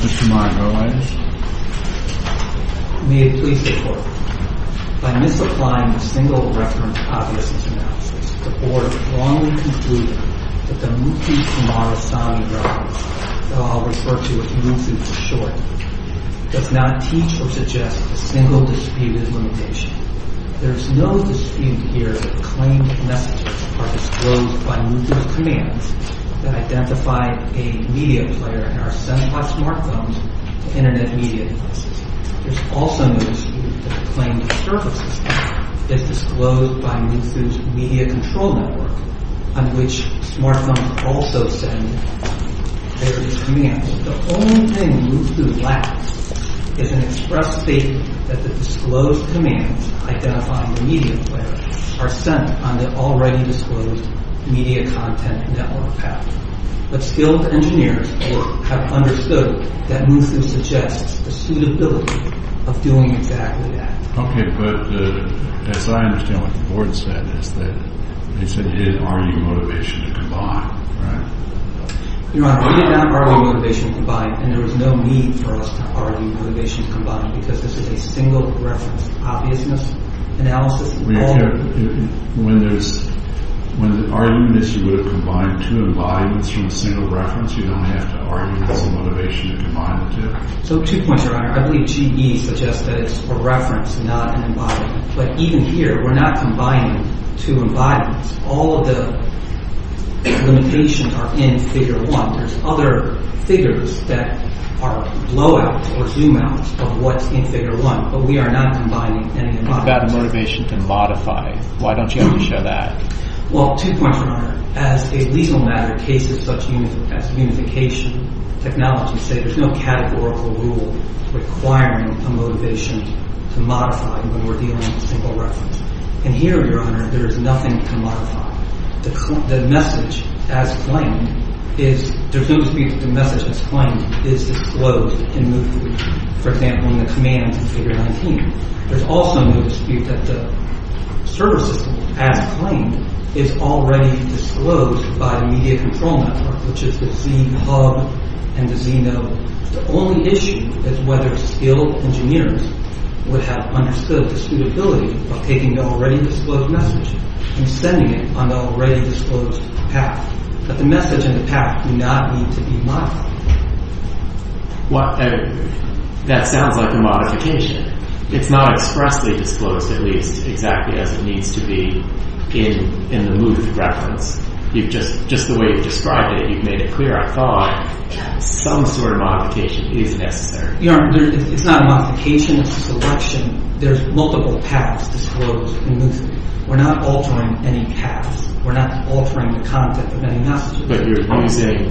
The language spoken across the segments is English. Mr. Margo Anderson. May it please the court, by misapplying the single reference obviousness analysis, the board wrongly concluded that the Mutu formara sound reference that I'll refer to as Mutu for short does not teach or suggest a single dispute elimination. There is no dispute here that the claimed messages are disclosed by Mutu's commands that identify a media player in our 7 plus smart phones to internet media devices. There is also no dispute that the claimed server system is disclosed by Mutu's media control network on which smart phones also send various commands. The only thing Mutu lacks is an express statement that the disclosed commands identifying the media player are sent on the already disclosed media content network path. But skilled engineers have understood that Mutu suggests the suitability of doing exactly that. Okay, but as I understand what the board said is that they said you didn't argue motivation to combine, right? Your Honor, we did not argue motivation to combine and there was no need for us to argue motivation to combine because this is a single reference obviousness analysis. When there's, when the argument is you would have combined two embodiments from a single reference, you don't have to argue this is motivation to combine the two. So two points, Your Honor. I believe GE suggests that it's a reference, not an embodiment. But even here, we're not combining two embodiments. All of the limitations are in figure one. There's other figures that are blowouts or zoom-outs of what's in figure one, but we are not combining any embodiments. It's about a motivation to modify. Why don't you have to show that? Well, two points, Your Honor. As a legal matter, cases such as unification technology say there's no categorical rule requiring a motivation to modify when we're dealing with a single reference. And here, Your Honor, there is nothing to modify. The message as claimed is, there's no dispute that the message as claimed is to close and move through. For example, in the commands in figure 19, there's also no dispute that the service system as claimed is already disclosed by the media control network, which is the z-hub and the z-node. The only issue is whether skilled engineers would have understood the suitability of taking the already disclosed message and sending it on the already disclosed path. But the message and the path do not need to be modified. That sounds like a modification. It's not expressly disclosed, at least, exactly as it needs to be in the Muth reference. Just the way you've described it, you've made it clear, I thought, some sort of modification is necessary. Your Honor, it's not a modification. It's a selection. There's multiple paths disclosed in Muth. We're not altering any paths. We're not altering the content of any message. But you're using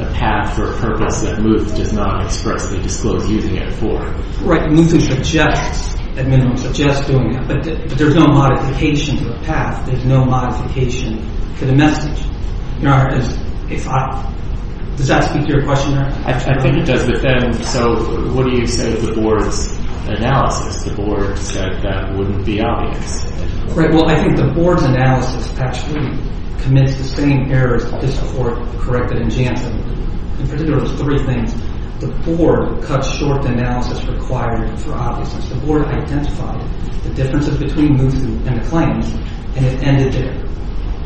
a path for a purpose that Muth does not expressly disclose using it for. Right. Muth suggests, at minimum, suggests doing that. But there's no modification for a path. There's no modification for the message. Your Honor, does that speak to your question, Your Honor? I think it does, but then, so what do you say to the board's analysis? The board said that wouldn't be obvious. Right. Well, I think the board's analysis actually commits the same errors as the board corrected in JANSA. In particular, it was three things. The board cut short the analysis required for obviousness. The board identified the differences between Muthu and the claims, and it ended there.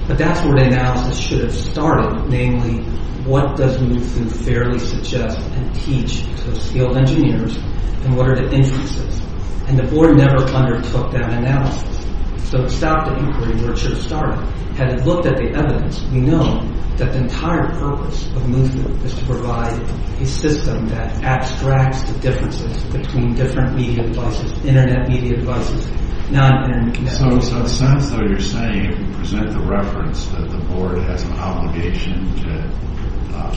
But that's where the analysis should have started, namely, what does Muthu fairly suggest and teach to the field engineers, and what are the inferences? And the board never undertook that analysis. So it stopped the inquiry where it should have started. Had it looked at the evidence, we know that the entire purpose of Muthu is to provide a system that abstracts the differences between different media buses, Internet media buses, non-Internet media buses. So in a sense, though, you're saying, present the reference that the board has an obligation to,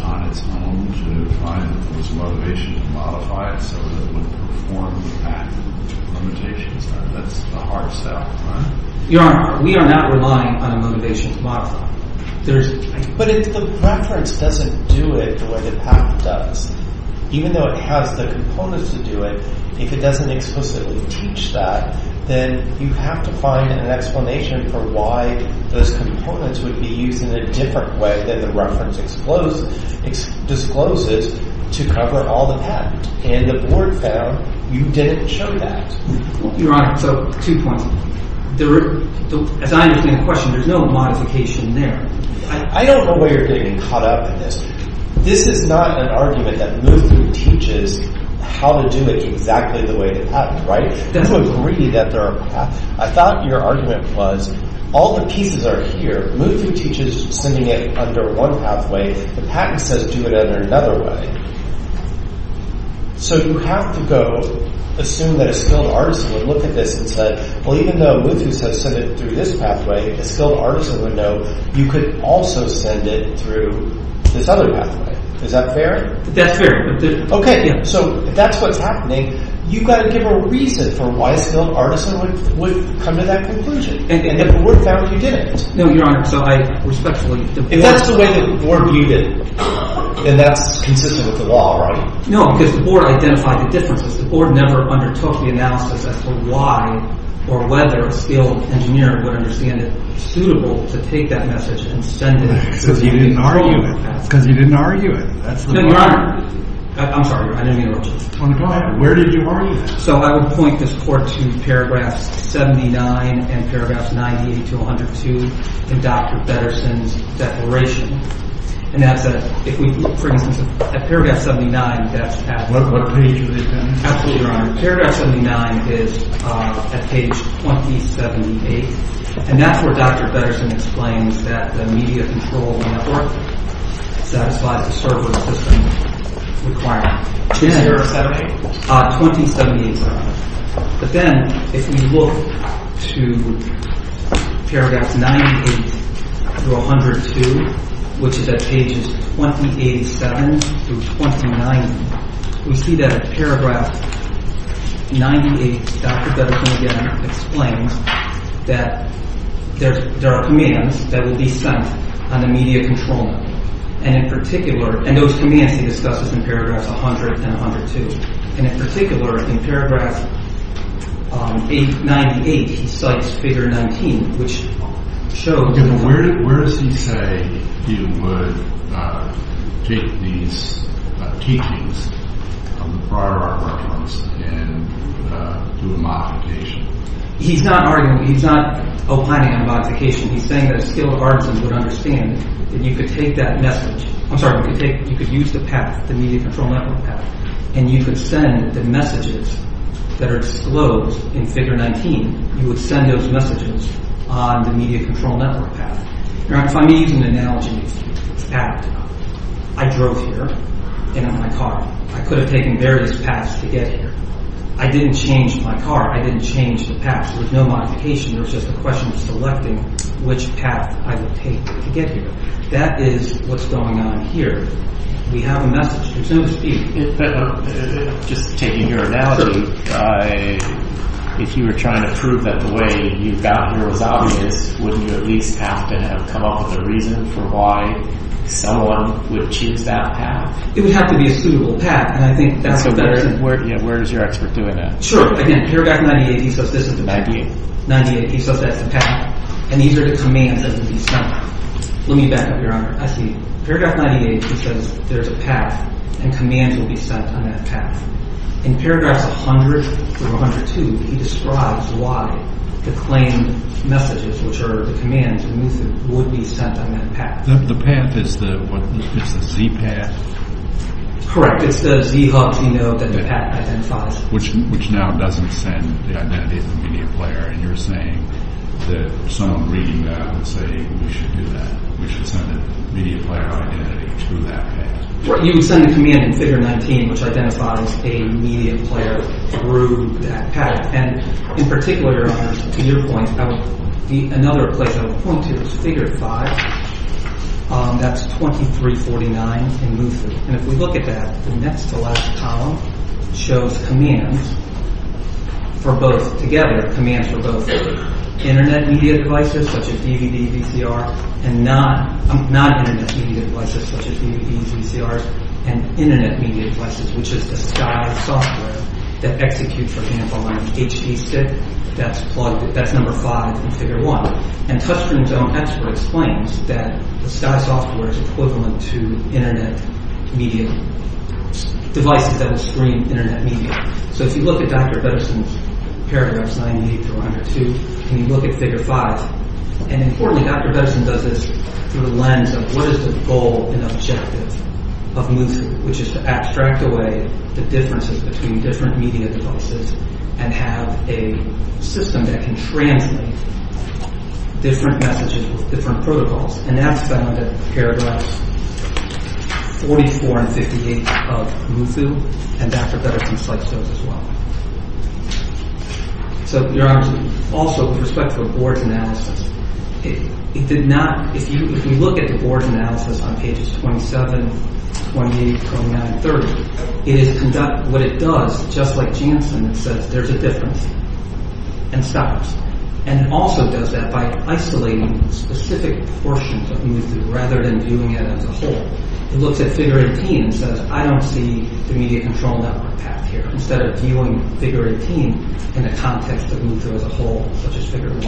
on its own, to find this motivation to modify it so that it would perform the path limitations. That's the hard sell, right? Your Honor, we are not relying on a motivation to modify. But if the reference doesn't do it the way the patent does, even though it has the components to do it, if it doesn't explicitly teach that, then you have to find an explanation for why those components would be used in a different way than the reference discloses to cover all the patent. And the board found you didn't show that. Your Honor, so two points. As I understand the question, there's no modification there. I don't know why you're getting caught up in this. This is not an argument that Muthu teaches how to do it exactly the way the patent, right? I don't agree that there are paths. I thought your argument was, all the pieces are here. Muthu teaches sending it under one pathway. The patent says do it under another way. So you have to go assume that a skilled artisan would look at this and say, well even though Muthu said send it through this pathway, a skilled artisan would know you could also send it through this other pathway. Is that fair? That's fair. Okay, so if that's what's happening, you've got to give a reason for why a skilled artisan would come to that conclusion. And the board found you didn't. No, Your Honor, so I respectfully... If that's the way the board viewed it, then that's consistent with the law, right? No, because the board identified the differences. The board never undertook the analysis as to why or whether a skilled engineer would understand it suitable to take that message and send it. Because you didn't argue it. Because you didn't argue it. No, Your Honor. I'm sorry. I didn't mean to interrupt you. Go ahead. Where did you argue it? So I would point this court to paragraphs 79 and paragraphs 98 to 102 in Dr. Bederson's declaration. And that's a... If we... For instance, at paragraph 79, that's... What page would it be? Absolutely, Your Honor. Paragraph 79 is at page 2078. And that's where Dr. Bederson explains that the media control network satisfies the server system requirement. Is there a 78? 2078, Your Honor. But then if we look to paragraphs 98 through 102, which is at pages 2087 through 2090, we see that at paragraph 98, Dr. Bederson again explains that there are commands that would be sent on the media control network. And in particular... And those commands he discusses in paragraphs 100 and 102. And in particular, in paragraph 98, he cites figure 19, which shows... Where does he say he would take these teachings of the prior art records and do a modification? He's not arguing... He's not opining on modification. He's saying that a skilled artisan would understand that you could take that message... I'm sorry. You could take... You could use the path, the media control network path, and you could send the messages that are disclosed in figure 19. You would send those messages on the media control network path. Now, if I'm using an analogy, it's a path. I drove here in my car. I could have taken various paths to get here. I didn't change my car. I didn't change the path. There was no modification. It was just a question of selecting which path I would take to get here. That is what's going on here. We have a message here. So to speak. Just taking your analogy, if you were trying to prove that the way you got here was obvious, wouldn't you at least have to have come up with a reason for why someone would choose that path? It would have to be a suitable path, and I think that's what that is. Where is your expert doing that? Sure. Again, paragraph 98, he says this is the path, and these are the commands that will be sent. Let me back up, Your Honor. I see. Paragraph 98, he says there's a path, and commands will be sent on that path. In paragraphs 100 through 102, he describes why the claimed messages, which are the commands, would be sent on that path. The path is the Z path? Correct. It's the Z hub, you know, that the path identifies. Which now doesn't send the identity of the media player, and you're saying that someone reading that would say we should do that. We should send a media player identity through that path. You would send a command in figure 19 which identifies a media player through that path. In particular, Your Honor, to your point, another place I would point to is figure 5. That's 2349 in Lutheran. If we look at that, the next to last column shows commands for both together, commands for both Internet media devices such as DVDs, VCRs, and non-Internet media devices such as DVDs, VCRs, and Internet media devices, which is the Sky software that executes, for example, on HD Stick. That's number 5 in figure 1. And TouchStream's own expert explains that the Sky software is equivalent to Internet media devices that will stream Internet media. So if you look at Dr. Bederson's paragraphs 98 through 102, and you look at figure 5, and importantly Dr. Bederson does this through the lens of what is the goal and objective of Mootoo, which is to abstract away the differences between different media devices and have a system that can transmit different messages with different protocols. And that's found in paragraphs 44 and 58 of Mootoo, and Dr. Bederson's slideshow as well. So, Your Honor, also with respect to a board analysis, if you look at the board analysis on pages 27, 28, 29, and 30, what it does, just like Janssen, it says there's a difference, and stops. And it also does that by isolating specific portions of Mootoo, rather than viewing it as a whole. It looks at figure 18 and says, I don't see the media control network path here, instead of viewing figure 18 in a context of Mootoo as a whole, such as figure 1.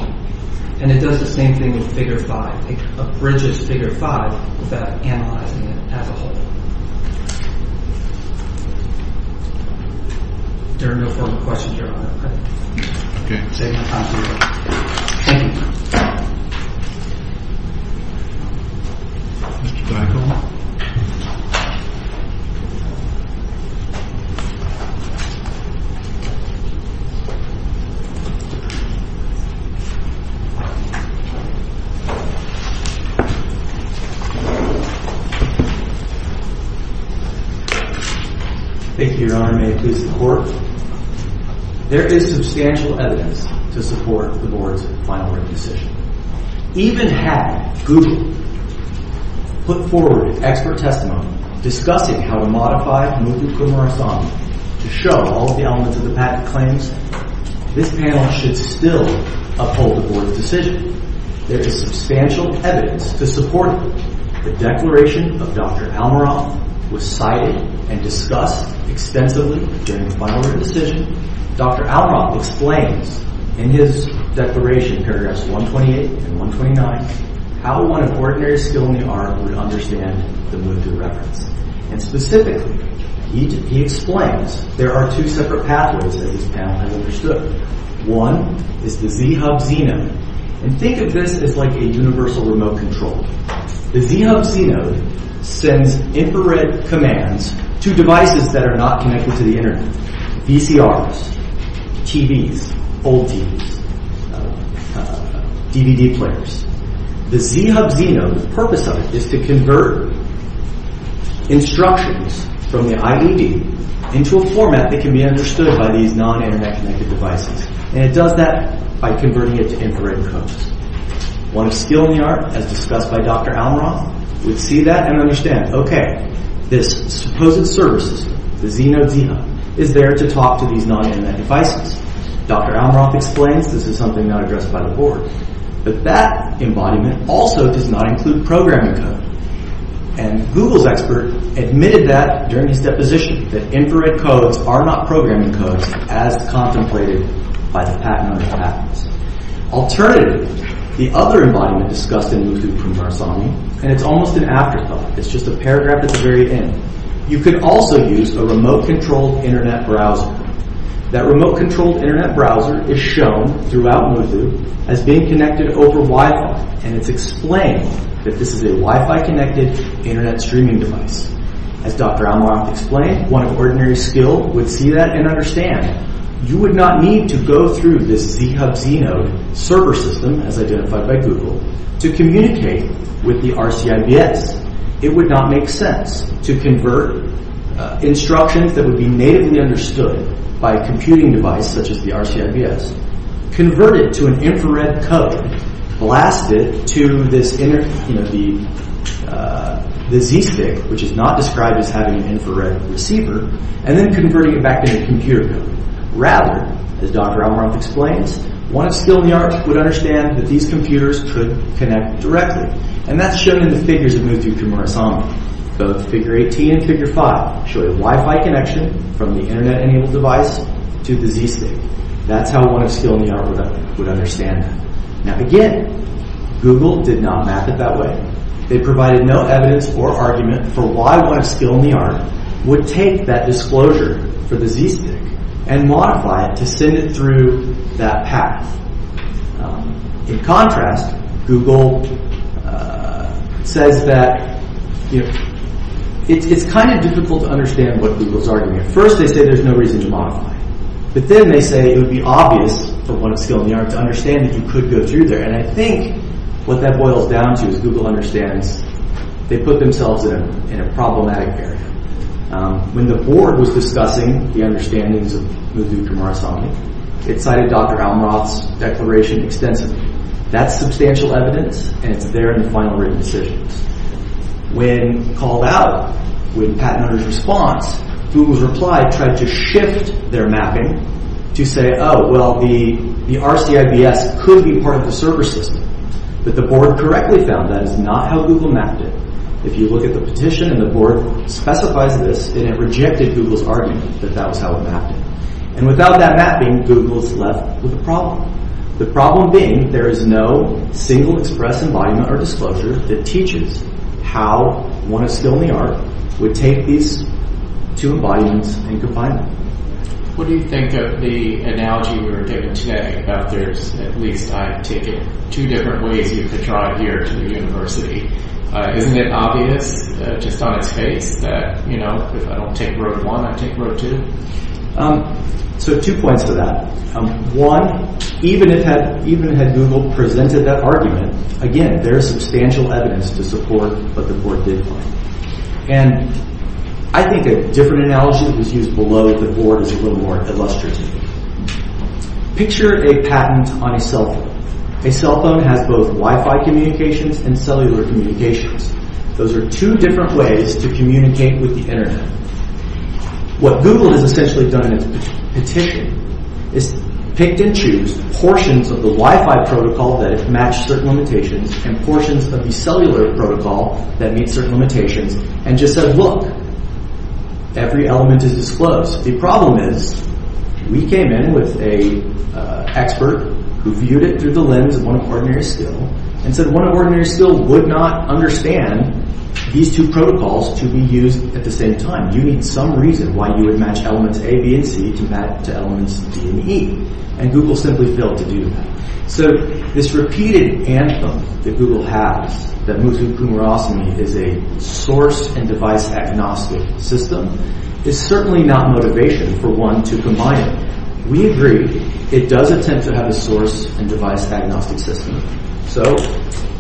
And it does the same thing with figure 5. It abridges figure 5 without analyzing it as a whole. There are no further questions, Your Honor. Okay. Thank you. Thank you, Your Honor. May it please the Court. There is substantial evidence to support the board's final written decision. Even had Google put forward its expert testimony discussing how to modify Mootoo Kumarasamy to show all of the elements of the packet claims, this panel should still uphold the board's decision. There is substantial evidence to support it. The declaration of Dr. Almaroff was cited and discussed extensively during the final written decision. Dr. Almaroff explains in his declaration, paragraphs 128 and 129, how one of ordinary skill in the art would understand the Mootoo reference. And specifically, he explains there are two separate pathways that this panel has understood. One is the z-hub-z node. And think of this as like a universal remote control. The z-hub-z node sends infrared commands to devices that are not connected to the internet. VCRs, TVs, old TVs, DVD players. The z-hub-z node, the purpose of it is to convert instructions from the IED into a format that can be understood by these non-internet connected devices. And it does that by converting it to infrared codes. One of skill in the art, as discussed by Dr. Almaroff, would see that and understand, okay, this supposed service, the z-hub-z node, is there to talk to these non-internet devices. Dr. Almaroff explains this is something not addressed by the board. But that embodiment also does not include programming code. And Google's expert admitted that during his deposition, that infrared codes are not programming codes as contemplated by the patent under patents. Alternatively, the other embodiment discussed in Mootoo from Tarasami, and it's almost an afterthought, it's just a paragraph at the very end, you could also use a remote controlled internet browser. That remote controlled internet browser is shown throughout Mootoo as being connected over Wi-Fi. And it's explained that this is a Wi-Fi connected internet streaming device. As Dr. Almaroff explained, one of ordinary skill would see that and understand, you would not need to go through this z-hub-z node server system, as identified by Google, to communicate with the RCIBS. It would not make sense to convert instructions that would be natively understood by a computing device such as the RCIBS, convert it to an infrared code, blast it to this inner, you know, the z-stick, which is not described as having an infrared receiver, and then converting it back to a computer code. Rather, as Dr. Almaroff explains, one of skill in the art would understand that these computers could connect directly. And that's shown in the figures of Mootoo from Tarasami. Both figure 18 and figure 5 show a Wi-Fi connection from the internet enabled device to the z-stick. That's how one of skill in the art would understand that. Now again, Google did not map it that way. They provided no evidence or argument for why one of skill in the art would take that disclosure for the z-stick and modify it to send it through that path. In contrast, Google says that, you know, it's kind of difficult to understand what Google's arguing. At first they say there's no reason to modify it. But then they say it would be obvious for one of skill in the art to understand that you could go through there. And I think what that boils down to is Google understands they put themselves in a problematic area. When the board was discussing the understandings of Mootoo from Tarasami, it cited Dr. Almaroff's declaration extensively. That's substantial evidence, and it's there in the final written decisions. When called out, with Pat and others' response, Google's reply tried to shift their mapping to say, oh, well, the RCIBS could be part of the server system. But the board correctly found that is not how Google mapped it. If you look at the petition and the board specifies this, it rejected Google's argument that that was how it mapped it. And without that mapping, Google's left with a problem. The problem being there is no single express embodiment or disclosure that teaches how one of skill in the art would take these two embodiments and combine them. What do you think of the analogy we were given today about there's at least, I take it, two different ways you could drive here to the university? Isn't it obvious just on its face that, you know, if I don't take road one, I take road two? So two points to that. One, even had Google presented that argument, again, there is substantial evidence to support what the board did find. And I think a different analogy that was used below the board is a little more illustrative. Picture a patent on a cell phone. A cell phone has both Wi-Fi communications and cellular communications. Those are two different ways to communicate with the Internet. What Google has essentially done is petition, is picked and choose portions of the Wi-Fi protocol that match certain limitations and portions of the cellular protocol that meet certain limitations and just said, look, every element is disclosed. The problem is we came in with an expert who viewed it through the lens of one of ordinary skill and said one of ordinary skill would not understand these two protocols to be used at the same time. You need some reason why you would match elements A, B, and C to elements D and E. And Google simply failed to do that. So this repeated anthem that Google has that Muthu Kumarasamy is a source and device agnostic system is certainly not motivation for one to combine it. We agree it does intend to have a source and device agnostic system. So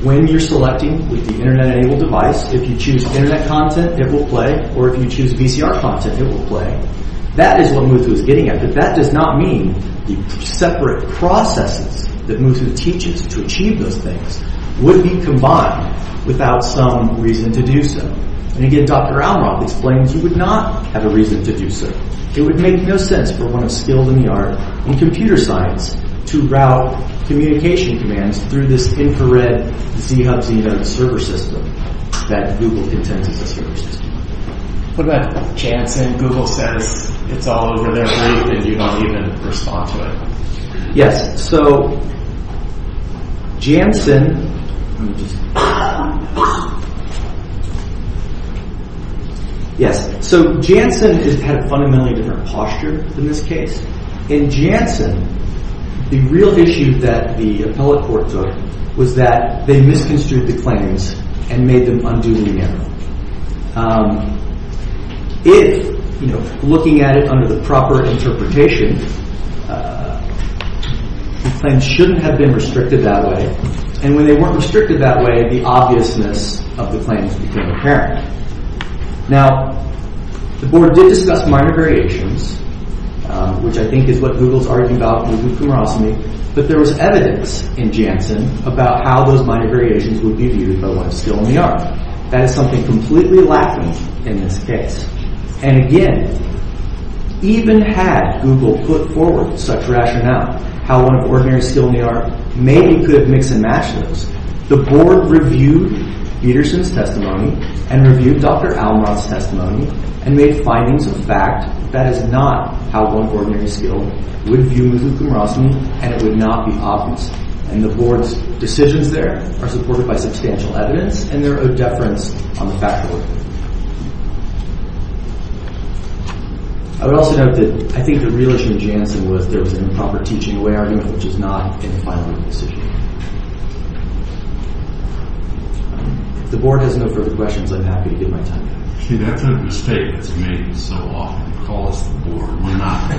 when you're selecting with the Internet-enabled device, if you choose Internet content, it will play. Or if you choose VCR content, it will play. That is what Muthu is getting at. But that does not mean the separate processes that Muthu teaches to achieve those things would be combined without some reason to do so. And again, Dr. Almaroff explains you would not have a reason to do so. It would make no sense for one of skilled in the art in computer science to route communication commands through this infrared z-hub, z-net server system that Google intends as a server system. What about Janssen? Google says it's all over their brief and you don't even respond to it. Yes, so Janssen has had fundamentally different posture in this case. In Janssen, the real issue that the appellate court took was that they misconstrued the claims and made them unduly narrow. If, looking at it under the proper interpretation, the claims shouldn't have been restricted that way. And when they weren't restricted that way, the obviousness of the claims became apparent. Now, the board did discuss minor variations, which I think is what Google is arguing about with Muthu Kumarasamy. But there was evidence in Janssen about how those minor variations would be viewed by one of skilled in the art. That is something completely lacking in this case. And again, even had Google put forward such rationale, how one of ordinary skilled in the art maybe could mix and match those, the board reviewed Peterson's testimony and reviewed Dr. Almarant's testimony and made findings of fact that is not how one of ordinary skilled would view Muthu Kumarasamy and it would not be obvious. And the board's decisions there are supported by substantial evidence and there are deference on the fact of it. I would also note that I think the real issue in Janssen was there was an improper teaching way argument, which is not in the final ruling decision. If the board has no further questions, I'm happy to give my time. See, that's a mistake that's made so often. Call us the board, why not?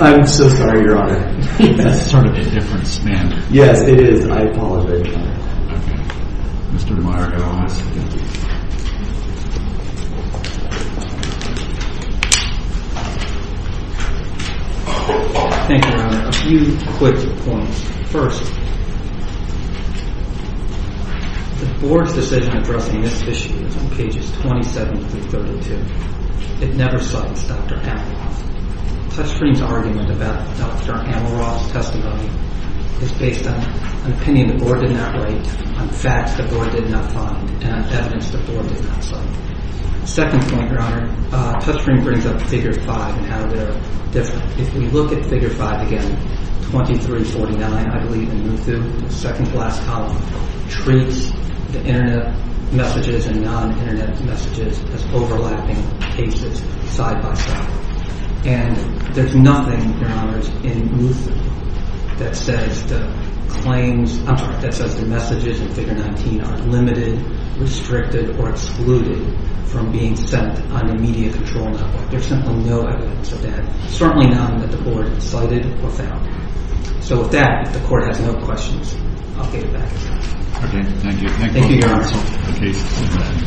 I'm so sorry, Your Honor. That's sort of indifference, man. Yes, it is. I apologize. Thank you, Your Honor. A few quick points. First, the board's decision addressing this issue is on pages 27 through 32. It never cites Dr. Amelroth. TouchStream's argument about Dr. Amelroth's testimony is based on an opinion the board did not write, on facts the board did not find, and on evidence the board did not cite. Second point, Your Honor, TouchStream brings up Figure 5 and how they're different. If we look at Figure 5 again, 2349, I believe, in Muthu, the second to last column, treats the Internet messages and non-Internet messages as overlapping cases side by side. And there's nothing, Your Honors, in Muthu that says the claims – I'm sorry, that says the messages in Figure 19 are limited, restricted, or excluded from being sent on the media control network. There's simply no evidence of that, certainly none that the board cited or found. So with that, if the court has no questions, I'll get it back to you. Okay, thank you. Thank you, Your Honor.